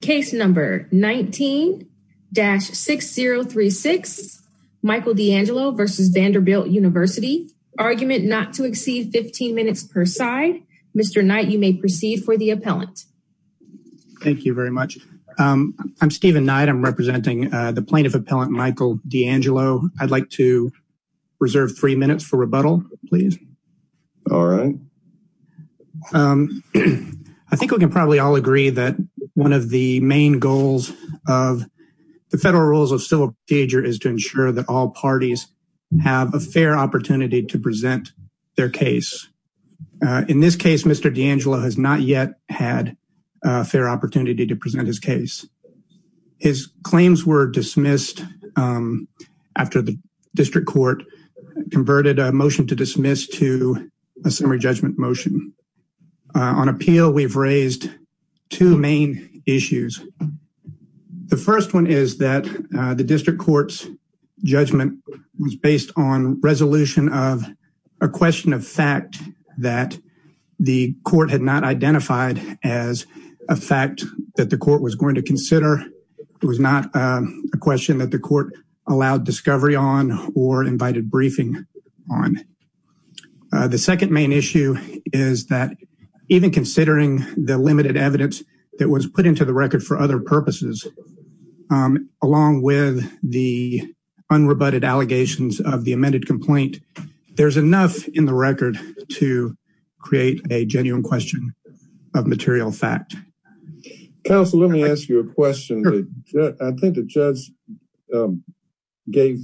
Case number 19-6036 Michael DeAngelo v. Vanderbilt University Argument not to exceed 15 minutes per side. Mr. Knight you may proceed for the appellant. Thank you very much. I'm Stephen Knight. I'm representing the plaintiff appellant Michael DeAngelo. I'd like to reserve three minutes for rebuttal please. All right. Thank you. I think we can probably all agree that one of the main goals of the federal rules of civil procedure is to ensure that all parties have a fair opportunity to present their case. In this case Mr. DeAngelo has not yet had a fair opportunity to present his case. His claims were dismissed after the district court converted a motion to dismiss to a summary judgment motion. On appeal we've raised two main issues. The first one is that the district court's judgment was based on resolution of a question of fact that the court had not identified as a fact that the court was going to consider. It was not a question that the court allowed discovery on or invited briefing on. The second main issue is that even considering the limited evidence that was put into the record for other purposes along with the unrebutted allegations of the amended complaint there's enough in the record to create a genuine question of material fact. Counsel let me ask you a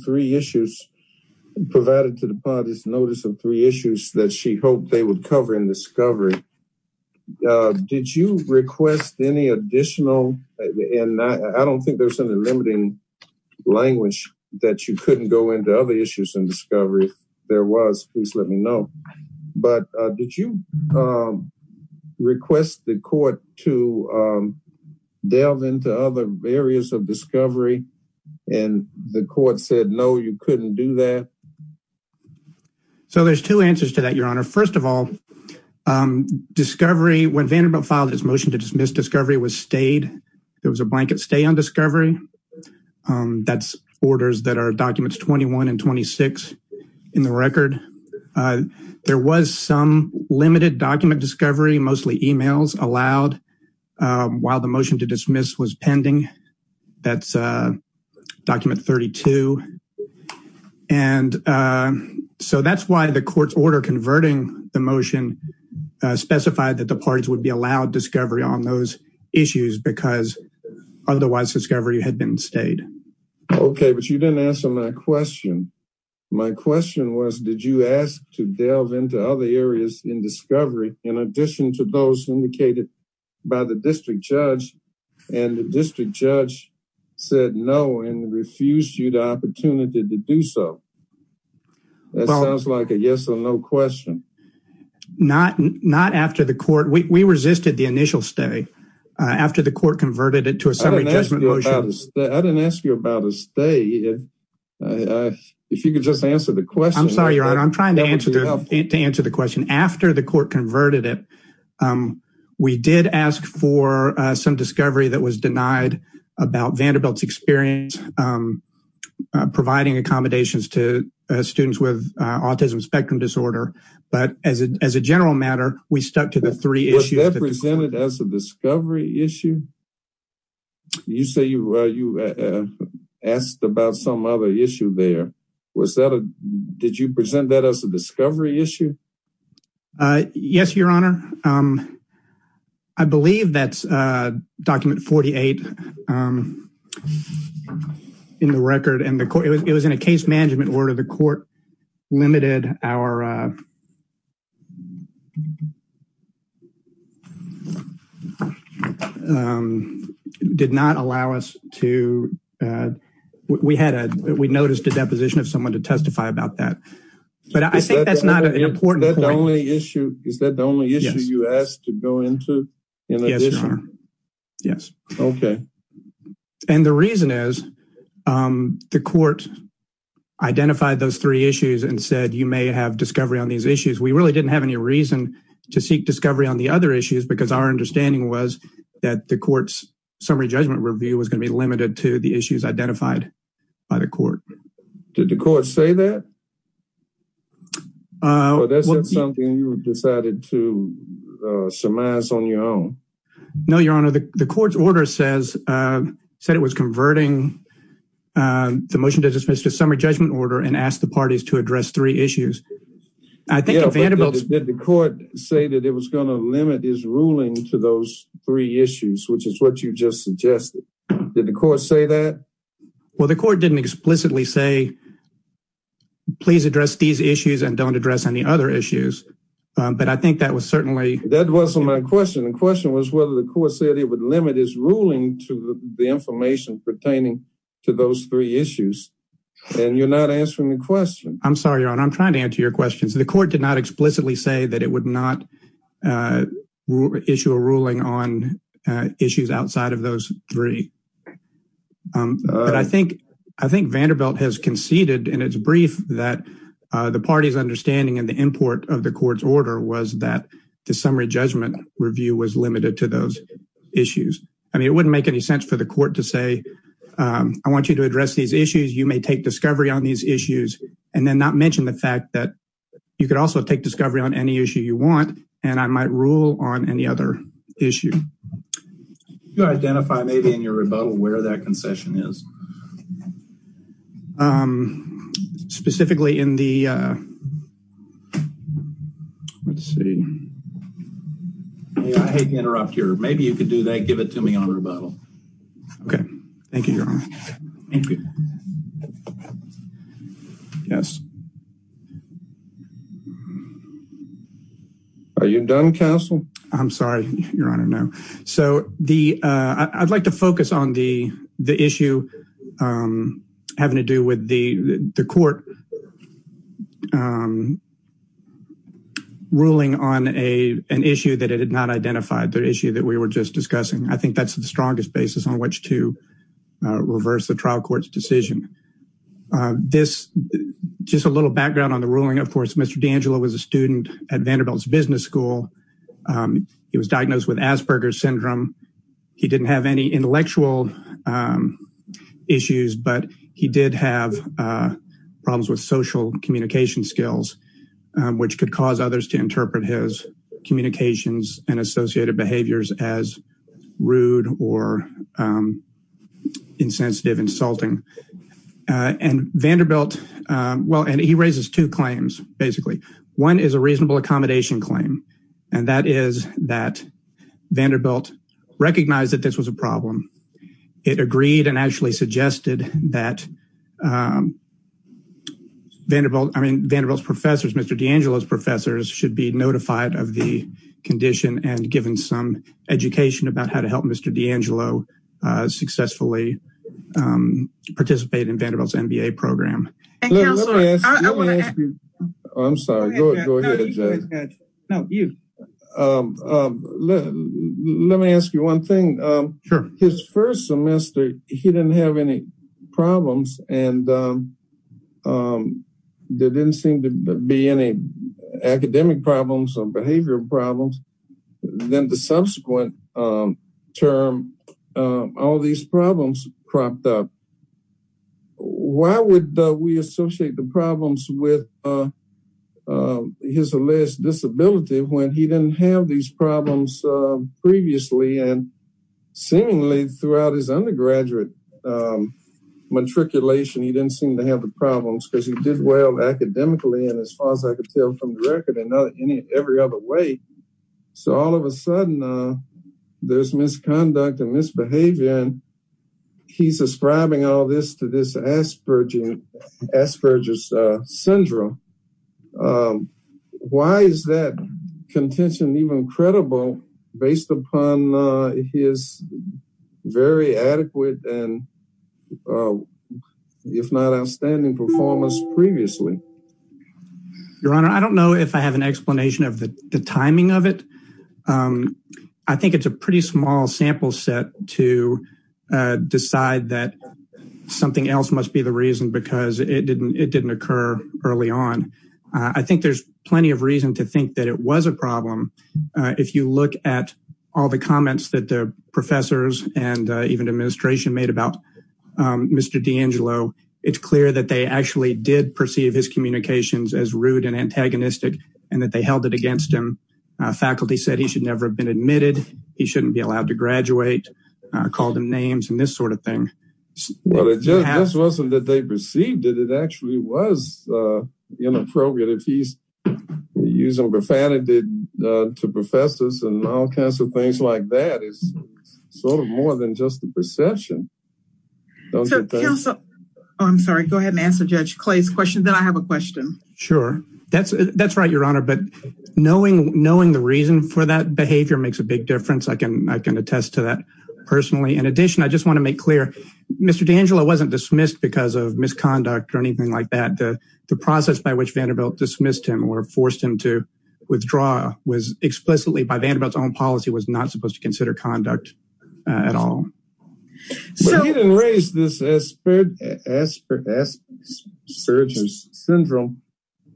three issues provided to the parties notice of three issues that she hoped they would cover in discovery. Did you request any additional and I don't think there's any limiting language that you couldn't go into other issues in discovery if there was please let me know but did you request the court to delve into other areas of discovery and the court said no you couldn't do that? So there's two answers to that your honor. First of all discovery when Vanderbilt filed his motion to dismiss discovery was stayed there was a blanket stay on discovery. That's orders that are documents 21 and 26 in the record. There was some while the motion to dismiss was pending that's document 32 and so that's why the court's order converting the motion specified that the parties would be allowed discovery on those issues because otherwise discovery had been stayed. Okay but you didn't answer my question. My question was did you ask to delve into other areas in discovery in addition to those indicated by the district judge and the district judge said no and refused you the opportunity to do so? That sounds like a yes or no question. Not after the court we resisted the initial stay after the court converted it to a summary judgment motion. I didn't ask you about a stay. If you could just answer the question. I'm sorry your honor I'm trying to answer the question. After the court converted it we did ask for some discovery that was denied about Vanderbilt's experience providing accommodations to students with autism spectrum disorder but as a general matter we stuck to the three issues. Was that presented as a discovery issue? You say you asked about some other issue there. Was that a did you present that as a discovery issue? Yes your honor. I believe that's document 48 in the record and the court it was in a case management order the court limited our um did not allow us to uh we had a we noticed a deposition of someone to testify about that but I think that's not an important only issue. Is that the only issue you asked to go into? Yes your honor. Yes. Okay. And the reason is um the court identified those three issues and said you may have discovery on these issues. We really didn't have any reason to seek discovery on the other issues because our understanding was that the court's summary judgment review was going to be limited to the issues identified by the court. Did the court say that? Uh that's not something you decided to surmise on your own. No your honor. The court's order says uh said it was converting um the motion to dismiss the summary judgment order and ask the parties to address three issues. I think the court said that it was going to limit his ruling to those three issues which is what you just suggested. Did the court say that? Well the court didn't explicitly say please address these issues and don't address any other issues. But I think that was certainly. That wasn't my question. The question was whether the court said it would limit his ruling to the information pertaining to those three issues. And you're not answering the question. I'm sorry your honor. I'm trying to answer your questions. The court did not explicitly say that it would not uh issue a ruling on issues outside of those three. Um but I think I think Vanderbilt has conceded in its brief that uh the party's understanding and the import of the court's order was that the summary judgment review was limited to those issues. I mean it wouldn't make any sense for the court to say um I want you to address these issues. You may take discovery on these issues and then not mention the fact that you could also take discovery on any issue you want and I might rule on any other issue. Do you identify maybe in your rebuttal where that concession is? Um specifically in the uh let's see. I hate to interrupt here. Maybe you could do that. Give it to me on Okay. Thank you your honor. Thank you. Yes. Are you done counsel? I'm sorry your honor. No. So the uh I'd like to focus on the the issue um having to do with the the court um ruling on a an issue that it had not identified. The issue that we were just discussing. I think that's the strongest basis on which to reverse the trial court's decision. This just a little background on the ruling. Of course Mr. D'Angelo was a student at Vanderbilt's business school. He was diagnosed with Asperger's syndrome. He didn't have any intellectual issues but he did have problems with social communication skills which could cause others to interpret his communications and associated behaviors as rude or um insensitive insulting. Uh and Vanderbilt um well and he raises two claims basically. One is a reasonable accommodation claim and that is that Vanderbilt recognized that this was a problem. It agreed and actually suggested that um Vanderbilt I mean Vanderbilt's professors Mr. D'Angelo's professors should be notified of the condition and given some education about how to help Mr. D'Angelo uh successfully um participate in Vanderbilt's MBA program. I'm sorry go ahead. No you um let me ask you one thing. Sure. His first semester he didn't have any problems and um there didn't seem to be any academic problems or behavioral problems. Then the subsequent um term all these problems cropped up. Why would we associate the problems with uh his alleged disability when he didn't have these problems uh previously and seemingly throughout his undergraduate um matriculation he didn't seem to have the problems because he did well academically and as far as I could tell from the record in every other way. So all of a sudden uh there's misconduct and misbehavior and he's ascribing all this to this Asperger's syndrome. Why is that contention even credible based upon uh his very adequate and uh if not outstanding performance previously? Your honor I don't know if I have an explanation of the timing of it. Um I think it's a pretty small sample set to uh decide that something else must be the reason because it didn't it didn't occur early on. I think there's plenty of reason to think that it was a problem uh if you look at all the comments that the professors and even administration made about um Mr. D'Angelo it's clear that they actually did perceive his communications as rude and antagonistic and that they held it against him. Faculty said he should never have been admitted, he shouldn't be allowed to graduate, uh called him names and this sort of thing. Well it just wasn't that they perceived it it actually was uh inappropriate if he's using profanity uh to professors and all kinds of things like that it's sort of more than just the perception. Oh I'm sorry go ahead and answer Judge Clay's question then I have a question. Sure that's that's right your honor but knowing knowing the reason for that behavior makes a big difference I can I can attest to that personally. In addition I just want to make clear Mr. D'Angelo wasn't dismissed because of misconduct or anything like that the the process by which Vanderbilt dismissed him or forced him to withdraw was explicitly by Vanderbilt's own conduct at all. He didn't raise this asperger's syndrome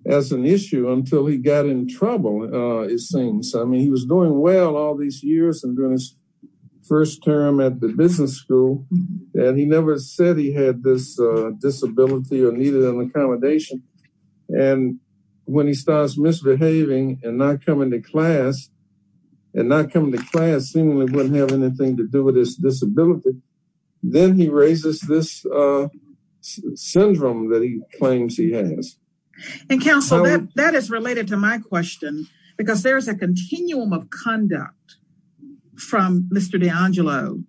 as an issue until he got in trouble uh it seems I mean he was doing well all these years and doing his first term at the business school and he never said he had this uh disability or needed an accommodation and when he starts misbehaving and not coming to class and not coming to class seemingly wouldn't have anything to do with his disability then he raises this uh syndrome that he claims he has. And counsel that is related to my question because there is a continuum of conduct from Mr. D'Angelo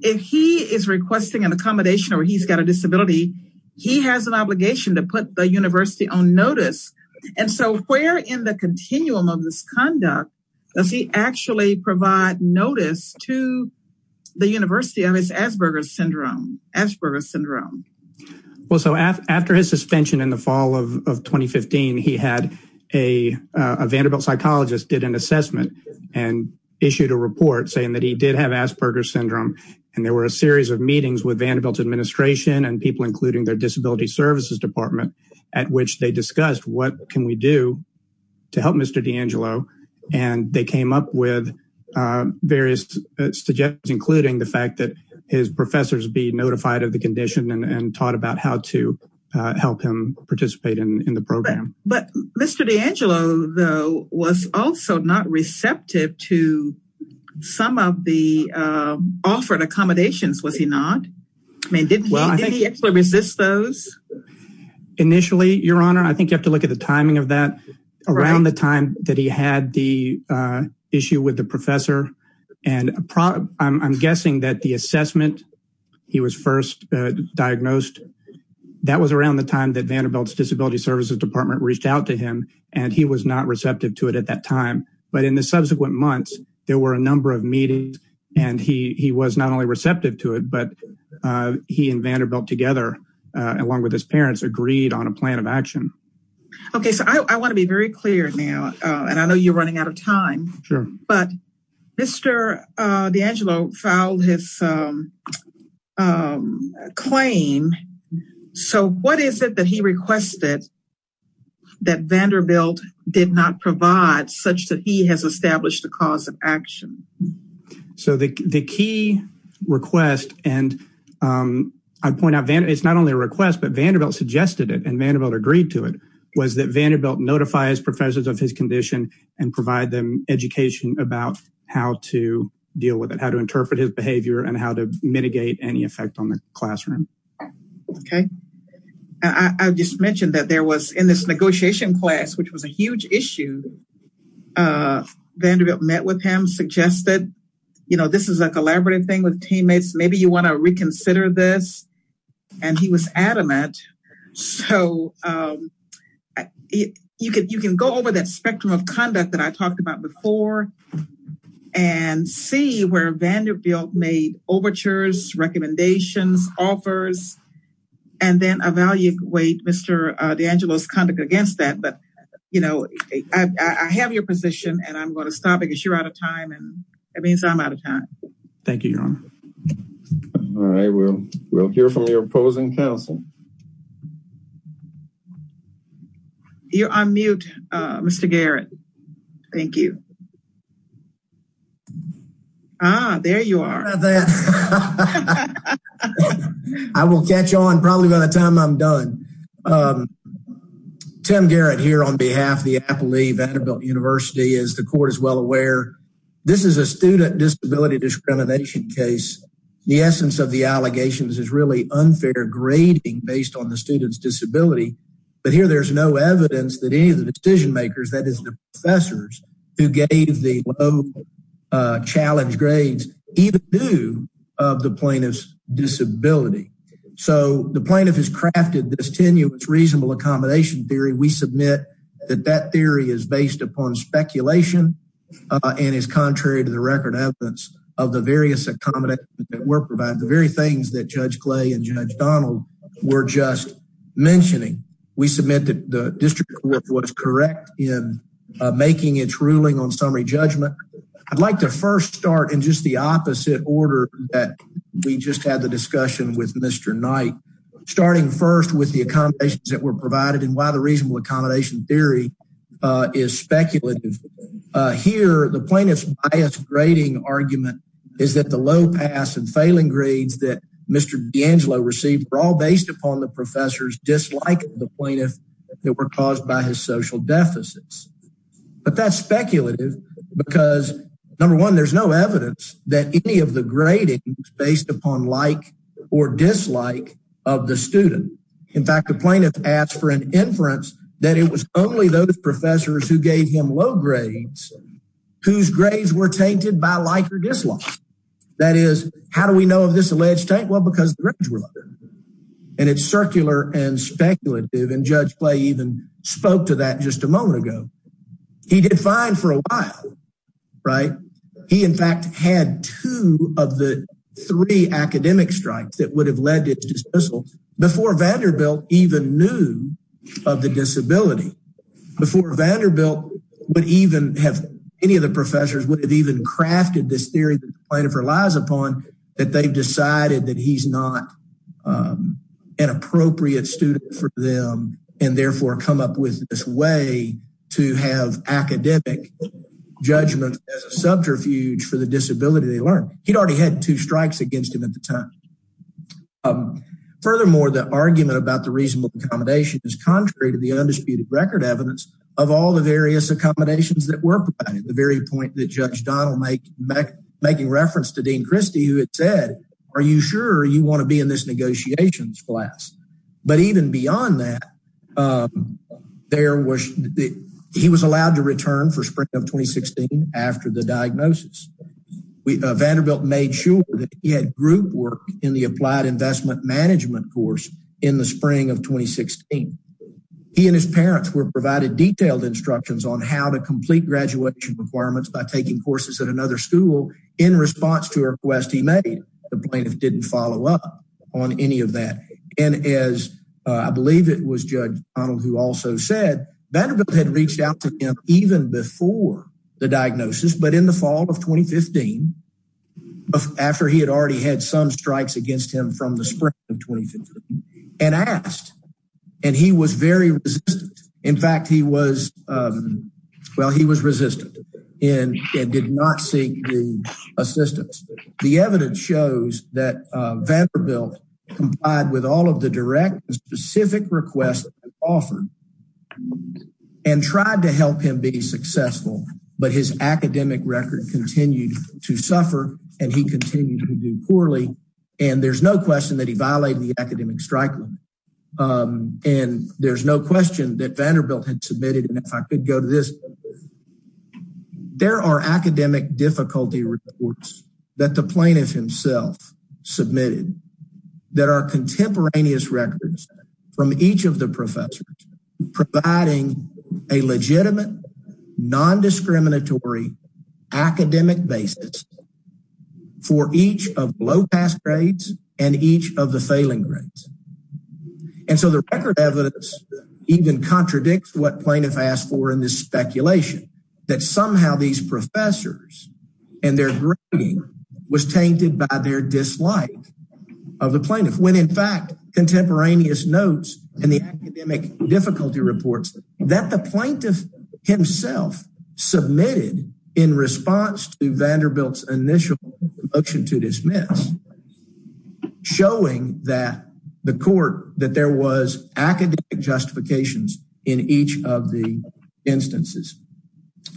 if he is requesting an accommodation or he's got a disability he has an obligation to put the does he actually provide notice to the university of his asperger's syndrome asperger's syndrome. Well so after his suspension in the fall of of 2015 he had a a Vanderbilt psychologist did an assessment and issued a report saying that he did have asperger's syndrome and there were a series of meetings with Vanderbilt's administration and people including their disability services department at which they discussed what can we do to help Mr. D'Angelo and they came up with various suggestions including the fact that his professors be notified of the condition and taught about how to help him participate in the program. But Mr. D'Angelo though was also not receptive to some of the offered accommodations was he not? I mean didn't he actually resist those? Initially your honor I think you have to look at the timing of that around the time that he had the issue with the professor and I'm guessing that the assessment he was first diagnosed that was around the time that Vanderbilt's disability services department reached out to him and he was not receptive to it at that time but in the subsequent months there were a number of meetings and he he was not only receptive to it but he and Vanderbilt together along with his parents agreed on a plan of action. Okay so I want to be very clear now and I know you're running out of time sure but Mr. D'Angelo filed his claim so what is it that he requested that Vanderbilt did not provide such that he has established the cause of action? So the the key request and I point out Van it's not only a request but Vanderbilt suggested it and Vanderbilt agreed to it was that Vanderbilt notify his professors of his condition and provide them education about how to deal with it how to interpret his behavior and how to mitigate any effect on the classroom. Okay I just mentioned that there was in this negotiation class which was a huge issue Vanderbilt met with him suggested you know this is a collaborative thing with teammates maybe you want to reconsider this and he was adamant so you can you can go over that spectrum of conduct that I talked about before and see where Vanderbilt made overtures recommendations offers and then evaluate Mr. D'Angelo's conduct against that but you know I have your position and I'm going to stop because you're out of time and that means I'm out of time. Thank you Your Honor. All right we'll we'll hear from your opposing counsel. You're on mute uh Mr. Garrett. Thank you. Ah there you are. I will catch on probably by the time I'm done. Tim Garrett here on behalf of the Appley Vanderbilt University as the court is aware this is a student disability discrimination case. The essence of the allegations is really unfair grading based on the student's disability but here there's no evidence that any of the decision makers that is the professors who gave the low challenge grades even due of the plaintiff's disability so the plaintiff has crafted this tenuous reasonable accommodation theory we submit that that theory is based upon speculation and is contrary to the record evidence of the various accommodations that were provided the very things that Judge Clay and Judge Donald were just mentioning we submit that the district court was correct in making its ruling on summary judgment. I'd like to first start in just the opposite order that we just had the discussion with Mr. Knight starting first with the accommodations that were provided and why the reasonable accommodation theory is speculative here the plaintiff's bias grading argument is that the low pass and failing grades that Mr. D'Angelo received were all based upon the professor's dislike of the plaintiff that were caused by his social deficits but that's speculative because number one there's no evidence that any of the grading is based upon like or dislike of the student in fact the plaintiff asked for an inference that it was only those professors who gave him low grades whose grades were tainted by like or dislike that is how do we know if this alleged tank well because the records were under and it's circular and speculative and Judge Clay even spoke to that just a moment ago he did fine for a while right he in fact had two of the three academic strikes that would have led to dismissal before Vanderbilt even knew of the disability before Vanderbilt would even have any of the professors would have even crafted this theory the plaintiff relies upon that they've decided that he's not an appropriate student for them and therefore come up with this way to have academic judgment as a subterfuge for the disability they learned he'd already had two strikes against him at the time furthermore the argument about the reasonable accommodation is contrary to the undisputed record evidence of all the various accommodations that were provided the very point that Judge Donnell make back making reference to Dean Christie who had said are you sure you want to be in this negotiations class but even beyond that there was he was allowed to return for the diagnosis we Vanderbilt made sure that he had group work in the applied investment management course in the spring of 2016 he and his parents were provided detailed instructions on how to complete graduation requirements by taking courses at another school in response to a request he made the plaintiff didn't follow up on any of that and as I believe it was Judge Donnell who also said Vanderbilt had reached out to him even before the diagnosis but in the fall of 2015 after he had already had some strikes against him from the spring of 2015 and asked and he was very resistant in fact he was well he was resistant and did not seek the assistance the evidence shows that Vanderbilt complied with all of the direct specific requests offered and tried to help him be successful but his academic record continued to suffer and he continued to do poorly and there's no question that he violated the academic strike limit and there's no question that Vanderbilt had submitted and if I could go to this there are academic difficulty reports that the plaintiff himself submitted that are contemporaneous records from each of the professors providing a legitimate non-discriminatory academic basis for each of low pass grades and each of the failing grades and so the record evidence even contradicts what plaintiff asked for in this speculation that somehow these professors and their was tainted by their dislike of the plaintiff when in fact contemporaneous notes and the academic difficulty reports that the plaintiff himself submitted in response to Vanderbilt's initial motion to dismiss showing that the court that there was academic justifications in each of the instances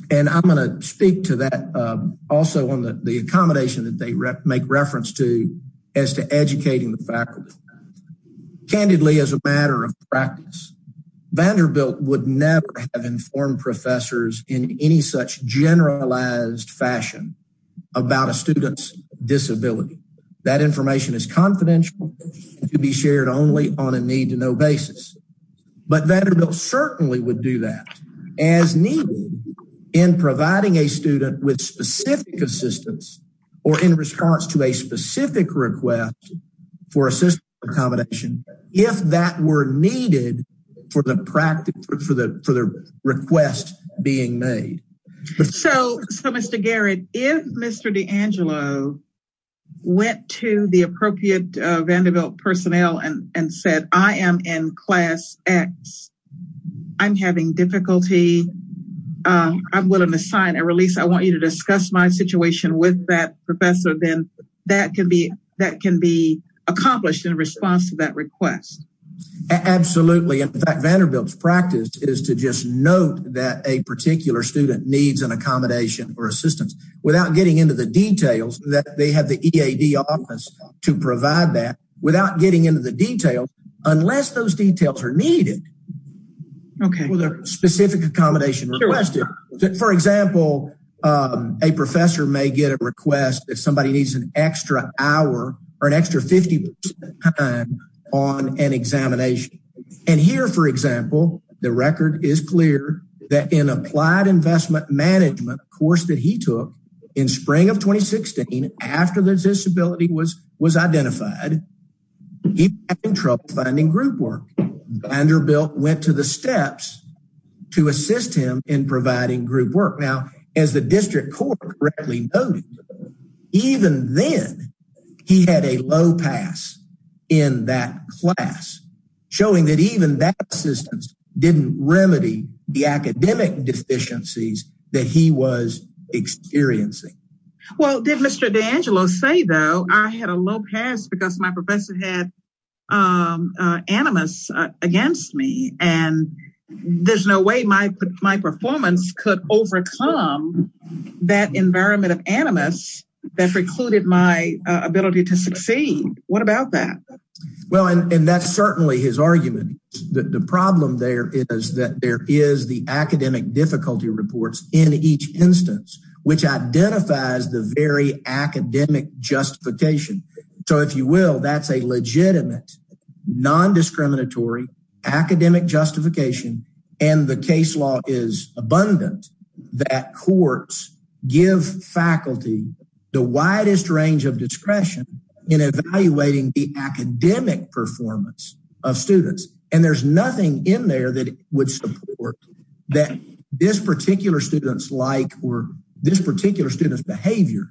and I'm going to speak to that also on the accommodation that they make reference to as to educating the faculty. Candidly as a matter of practice Vanderbilt would never have informed professors in any such generalized fashion about a student's disability that information is confidential to be shared only on a need to know basis but Vanderbilt certainly would do that as needed in providing a student with specific assistance or in response to a specific request for assistance accommodation if that were needed for the practice for the for the request being made. So Mr. Garrett if Mr. DeAngelo went to the appropriate Vanderbilt personnel and and said I am in class x I'm having difficulty uh I'm willing to sign a release I want you to discuss my situation with that professor then that can be that can be accomplished in response to that request. Absolutely in fact Vanderbilt's practice is to just note that a particular student needs an accommodation or assistance without getting into the details that they have the EAD office to provide that without getting into the details unless those details are needed. Okay. With a specific accommodation requested for example a professor may get a request if somebody needs an extra hour or an extra 50 percent time on an examination and here for example the record is clear that in applied investment management course that he took in spring of 2016 after the disability was was identified he had trouble finding group work. Vanderbilt went to the steps to assist him in providing group work. Now as the district court correctly noted even then he had a low pass in that class showing that even that assistance didn't remedy the academic deficiencies that he was experiencing. Well did Mr. DeAngelo say though I had a low pass because my professor had um uh animus against me and there's no way my my performance could overcome that environment of animus that precluded my ability to succeed. What about that? Well and that's certainly his argument the problem there is that there is the academic difficulty reports in each instance which identifies the very academic justification. So if you will that's a legitimate non-discriminatory academic justification and the case law is abundant that courts give faculty the widest range of discretion in evaluating the academic performance of students and there's nothing in there that would support that this particular student's like or this particular student's behavior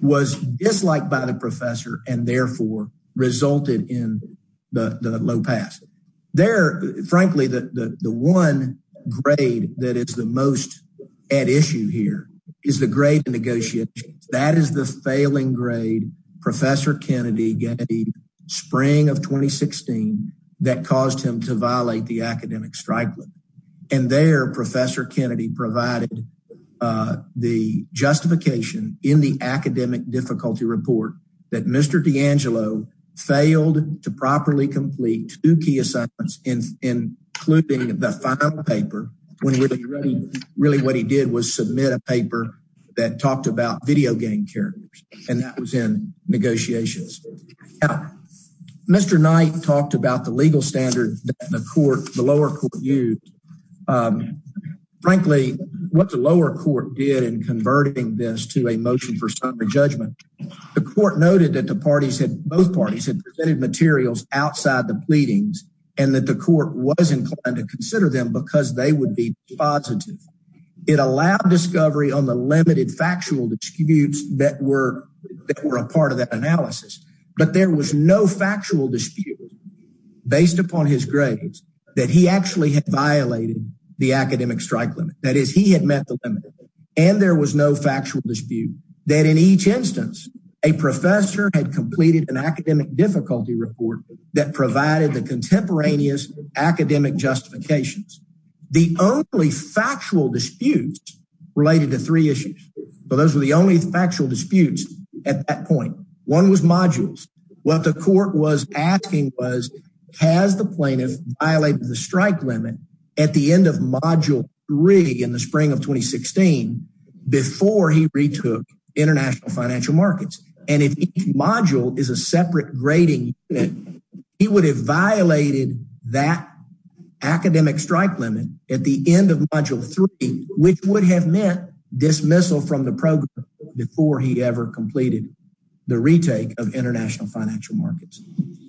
was disliked by the professor and therefore resulted in the the low pass. There frankly the the one grade that is the most at issue here is the grade in negotiation. That is the failing grade Professor Kennedy gave spring of 2016 that caused him to violate the academic strike and there Professor Kennedy provided uh the justification in the academic difficulty report that Mr. DeAngelo failed to properly complete two key assignments including the final paper when really really what he did was submit a paper that talked about video game characters and that was in negotiations. Now Mr. Knight talked about the legal standard that the court the lower court used. Frankly what the lower court did in converting this to a motion for summary judgment the court noted that the parties had both parties had presented materials outside the pleadings and that the court was inclined to consider them because they would be positive. It allowed discovery on the limited factual disputes that were that were a part of that analysis but there was no factual dispute based upon his grades that he actually had violated the academic strike limit. That is he had met the limit and there was no factual dispute that in each instance a professor had completed an academic difficulty report that provided the contemporaneous academic justifications. The only factual disputes related to three issues but those were the only factual disputes at that point. One was modules what the court was asking was has the plaintiff violated the strike limit at the end of module three in the spring of 2016 before he retook international financial markets and if each module is a separate grading unit he would have violated that academic strike limit at the end of module three which would have meant dismissal from the program before he ever completed the retake of international financial markets.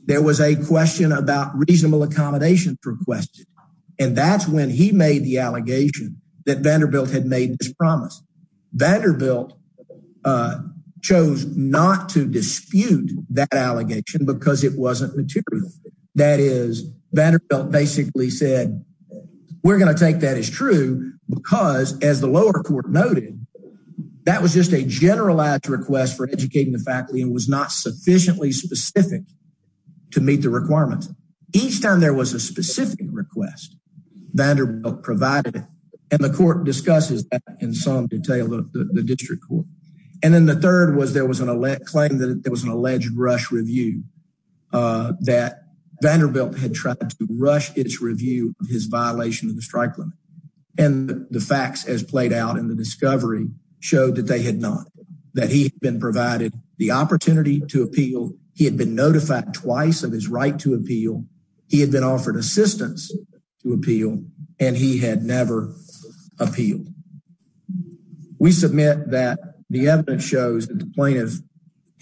There was a question about reasonable accommodation requested and that's when he made the allegation that Vanderbilt had made this promise. Vanderbilt chose not to dispute that allegation because it wasn't material. That is Vanderbilt basically said we're going to take that as true because as the lower court noted that was just a generalized request for educating the faculty and was not sufficiently specific to meet the requirements. Each time there was a specific request Vanderbilt provided and the court discusses that in some detail of the district court and then the third was there was an elect claim that there was an alleged rush review uh that Vanderbilt had tried to rush its review of his violation of the strike limit and the facts as played out in the discovery showed that they had not that he had been provided the opportunity to appeal he had been notified twice of his right to appeal he had been offered assistance to appeal and he had never appealed. We submit that the evidence shows that the plaintiff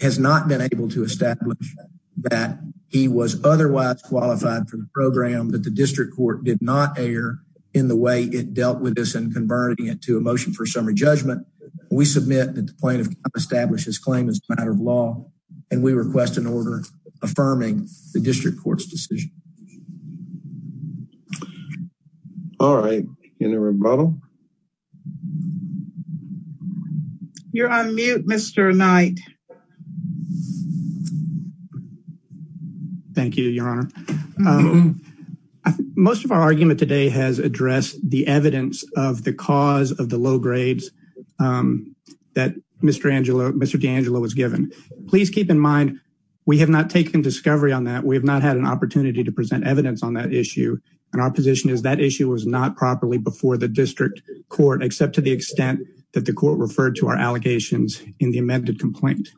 has not been able to establish that he was otherwise qualified for the that the district court did not err in the way it dealt with this and converting it to a motion for summary judgment. We submit that the plaintiff established his claim as a matter of law and we request an order affirming the district court's decision. All right in a rebuttal. You're on mute Mr. Knight. Thank you your honor. Most of our argument today has addressed the evidence of the cause of the low grades um that Mr. Angelo Mr. D'Angelo was given. Please keep in mind we have not taken discovery on that we have not had an opportunity to present evidence on that issue and our position is that issue was not properly before the district court except to the extent that the court referred to our allegations in the amended complaint.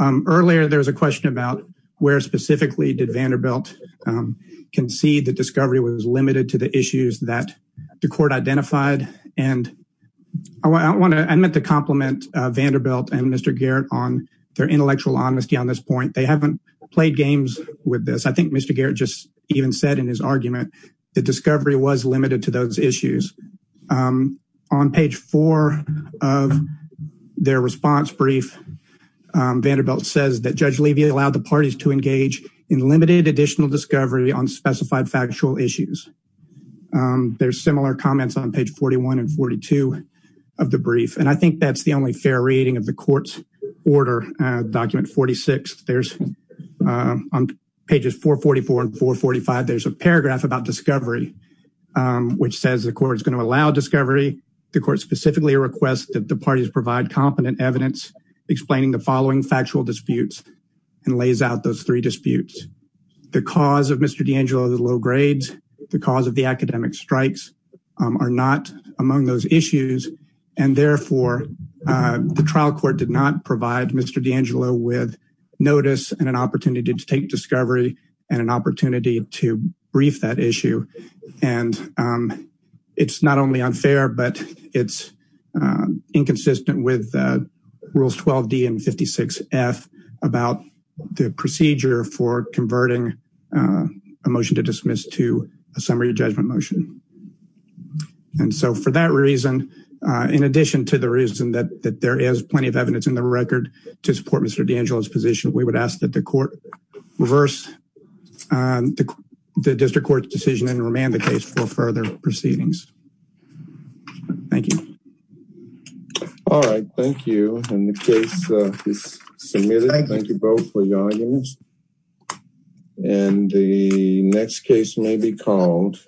Earlier there was a question about where specifically did Vanderbilt concede that discovery was limited to the issues that the court identified and I want to I meant to compliment Vanderbilt and Mr. Garrett on their intellectual honesty on this point. They haven't played games with this. I think Mr. Garrett just even said in his argument that discovery was limited to those issues. On page four of their response brief Vanderbilt says that Judge Levy allowed the parties to engage in limited additional discovery on specified factual issues. There's similar comments on page 41 and 42 of the brief and I think that's the only fair reading of the court's order document 46. There's on pages 444 and 445 there's a paragraph about discovery which says the court is going to allow discovery the court specifically requests that the parties provide competent evidence explaining the following factual disputes and lays out those three disputes. The cause of Mr. D'Angelo's low grades, the cause of the academic strikes are not among those issues and therefore the trial court did not provide Mr. D'Angelo with notice and an opportunity to take discovery and an opportunity to brief that issue and it's not only unfair but it's inconsistent with rules 12d and 56 f about the procedure for converting a motion to dismiss to a summary judgment motion and so for that reason in addition to the reason that that there is plenty of evidence in the record to support Mr. D'Angelo's position we would ask that the court reverse the district court's decision and remand the case for further proceedings. Thank you. All right thank you and the case is submitted. Thank you both for your arguments and the next case may be called.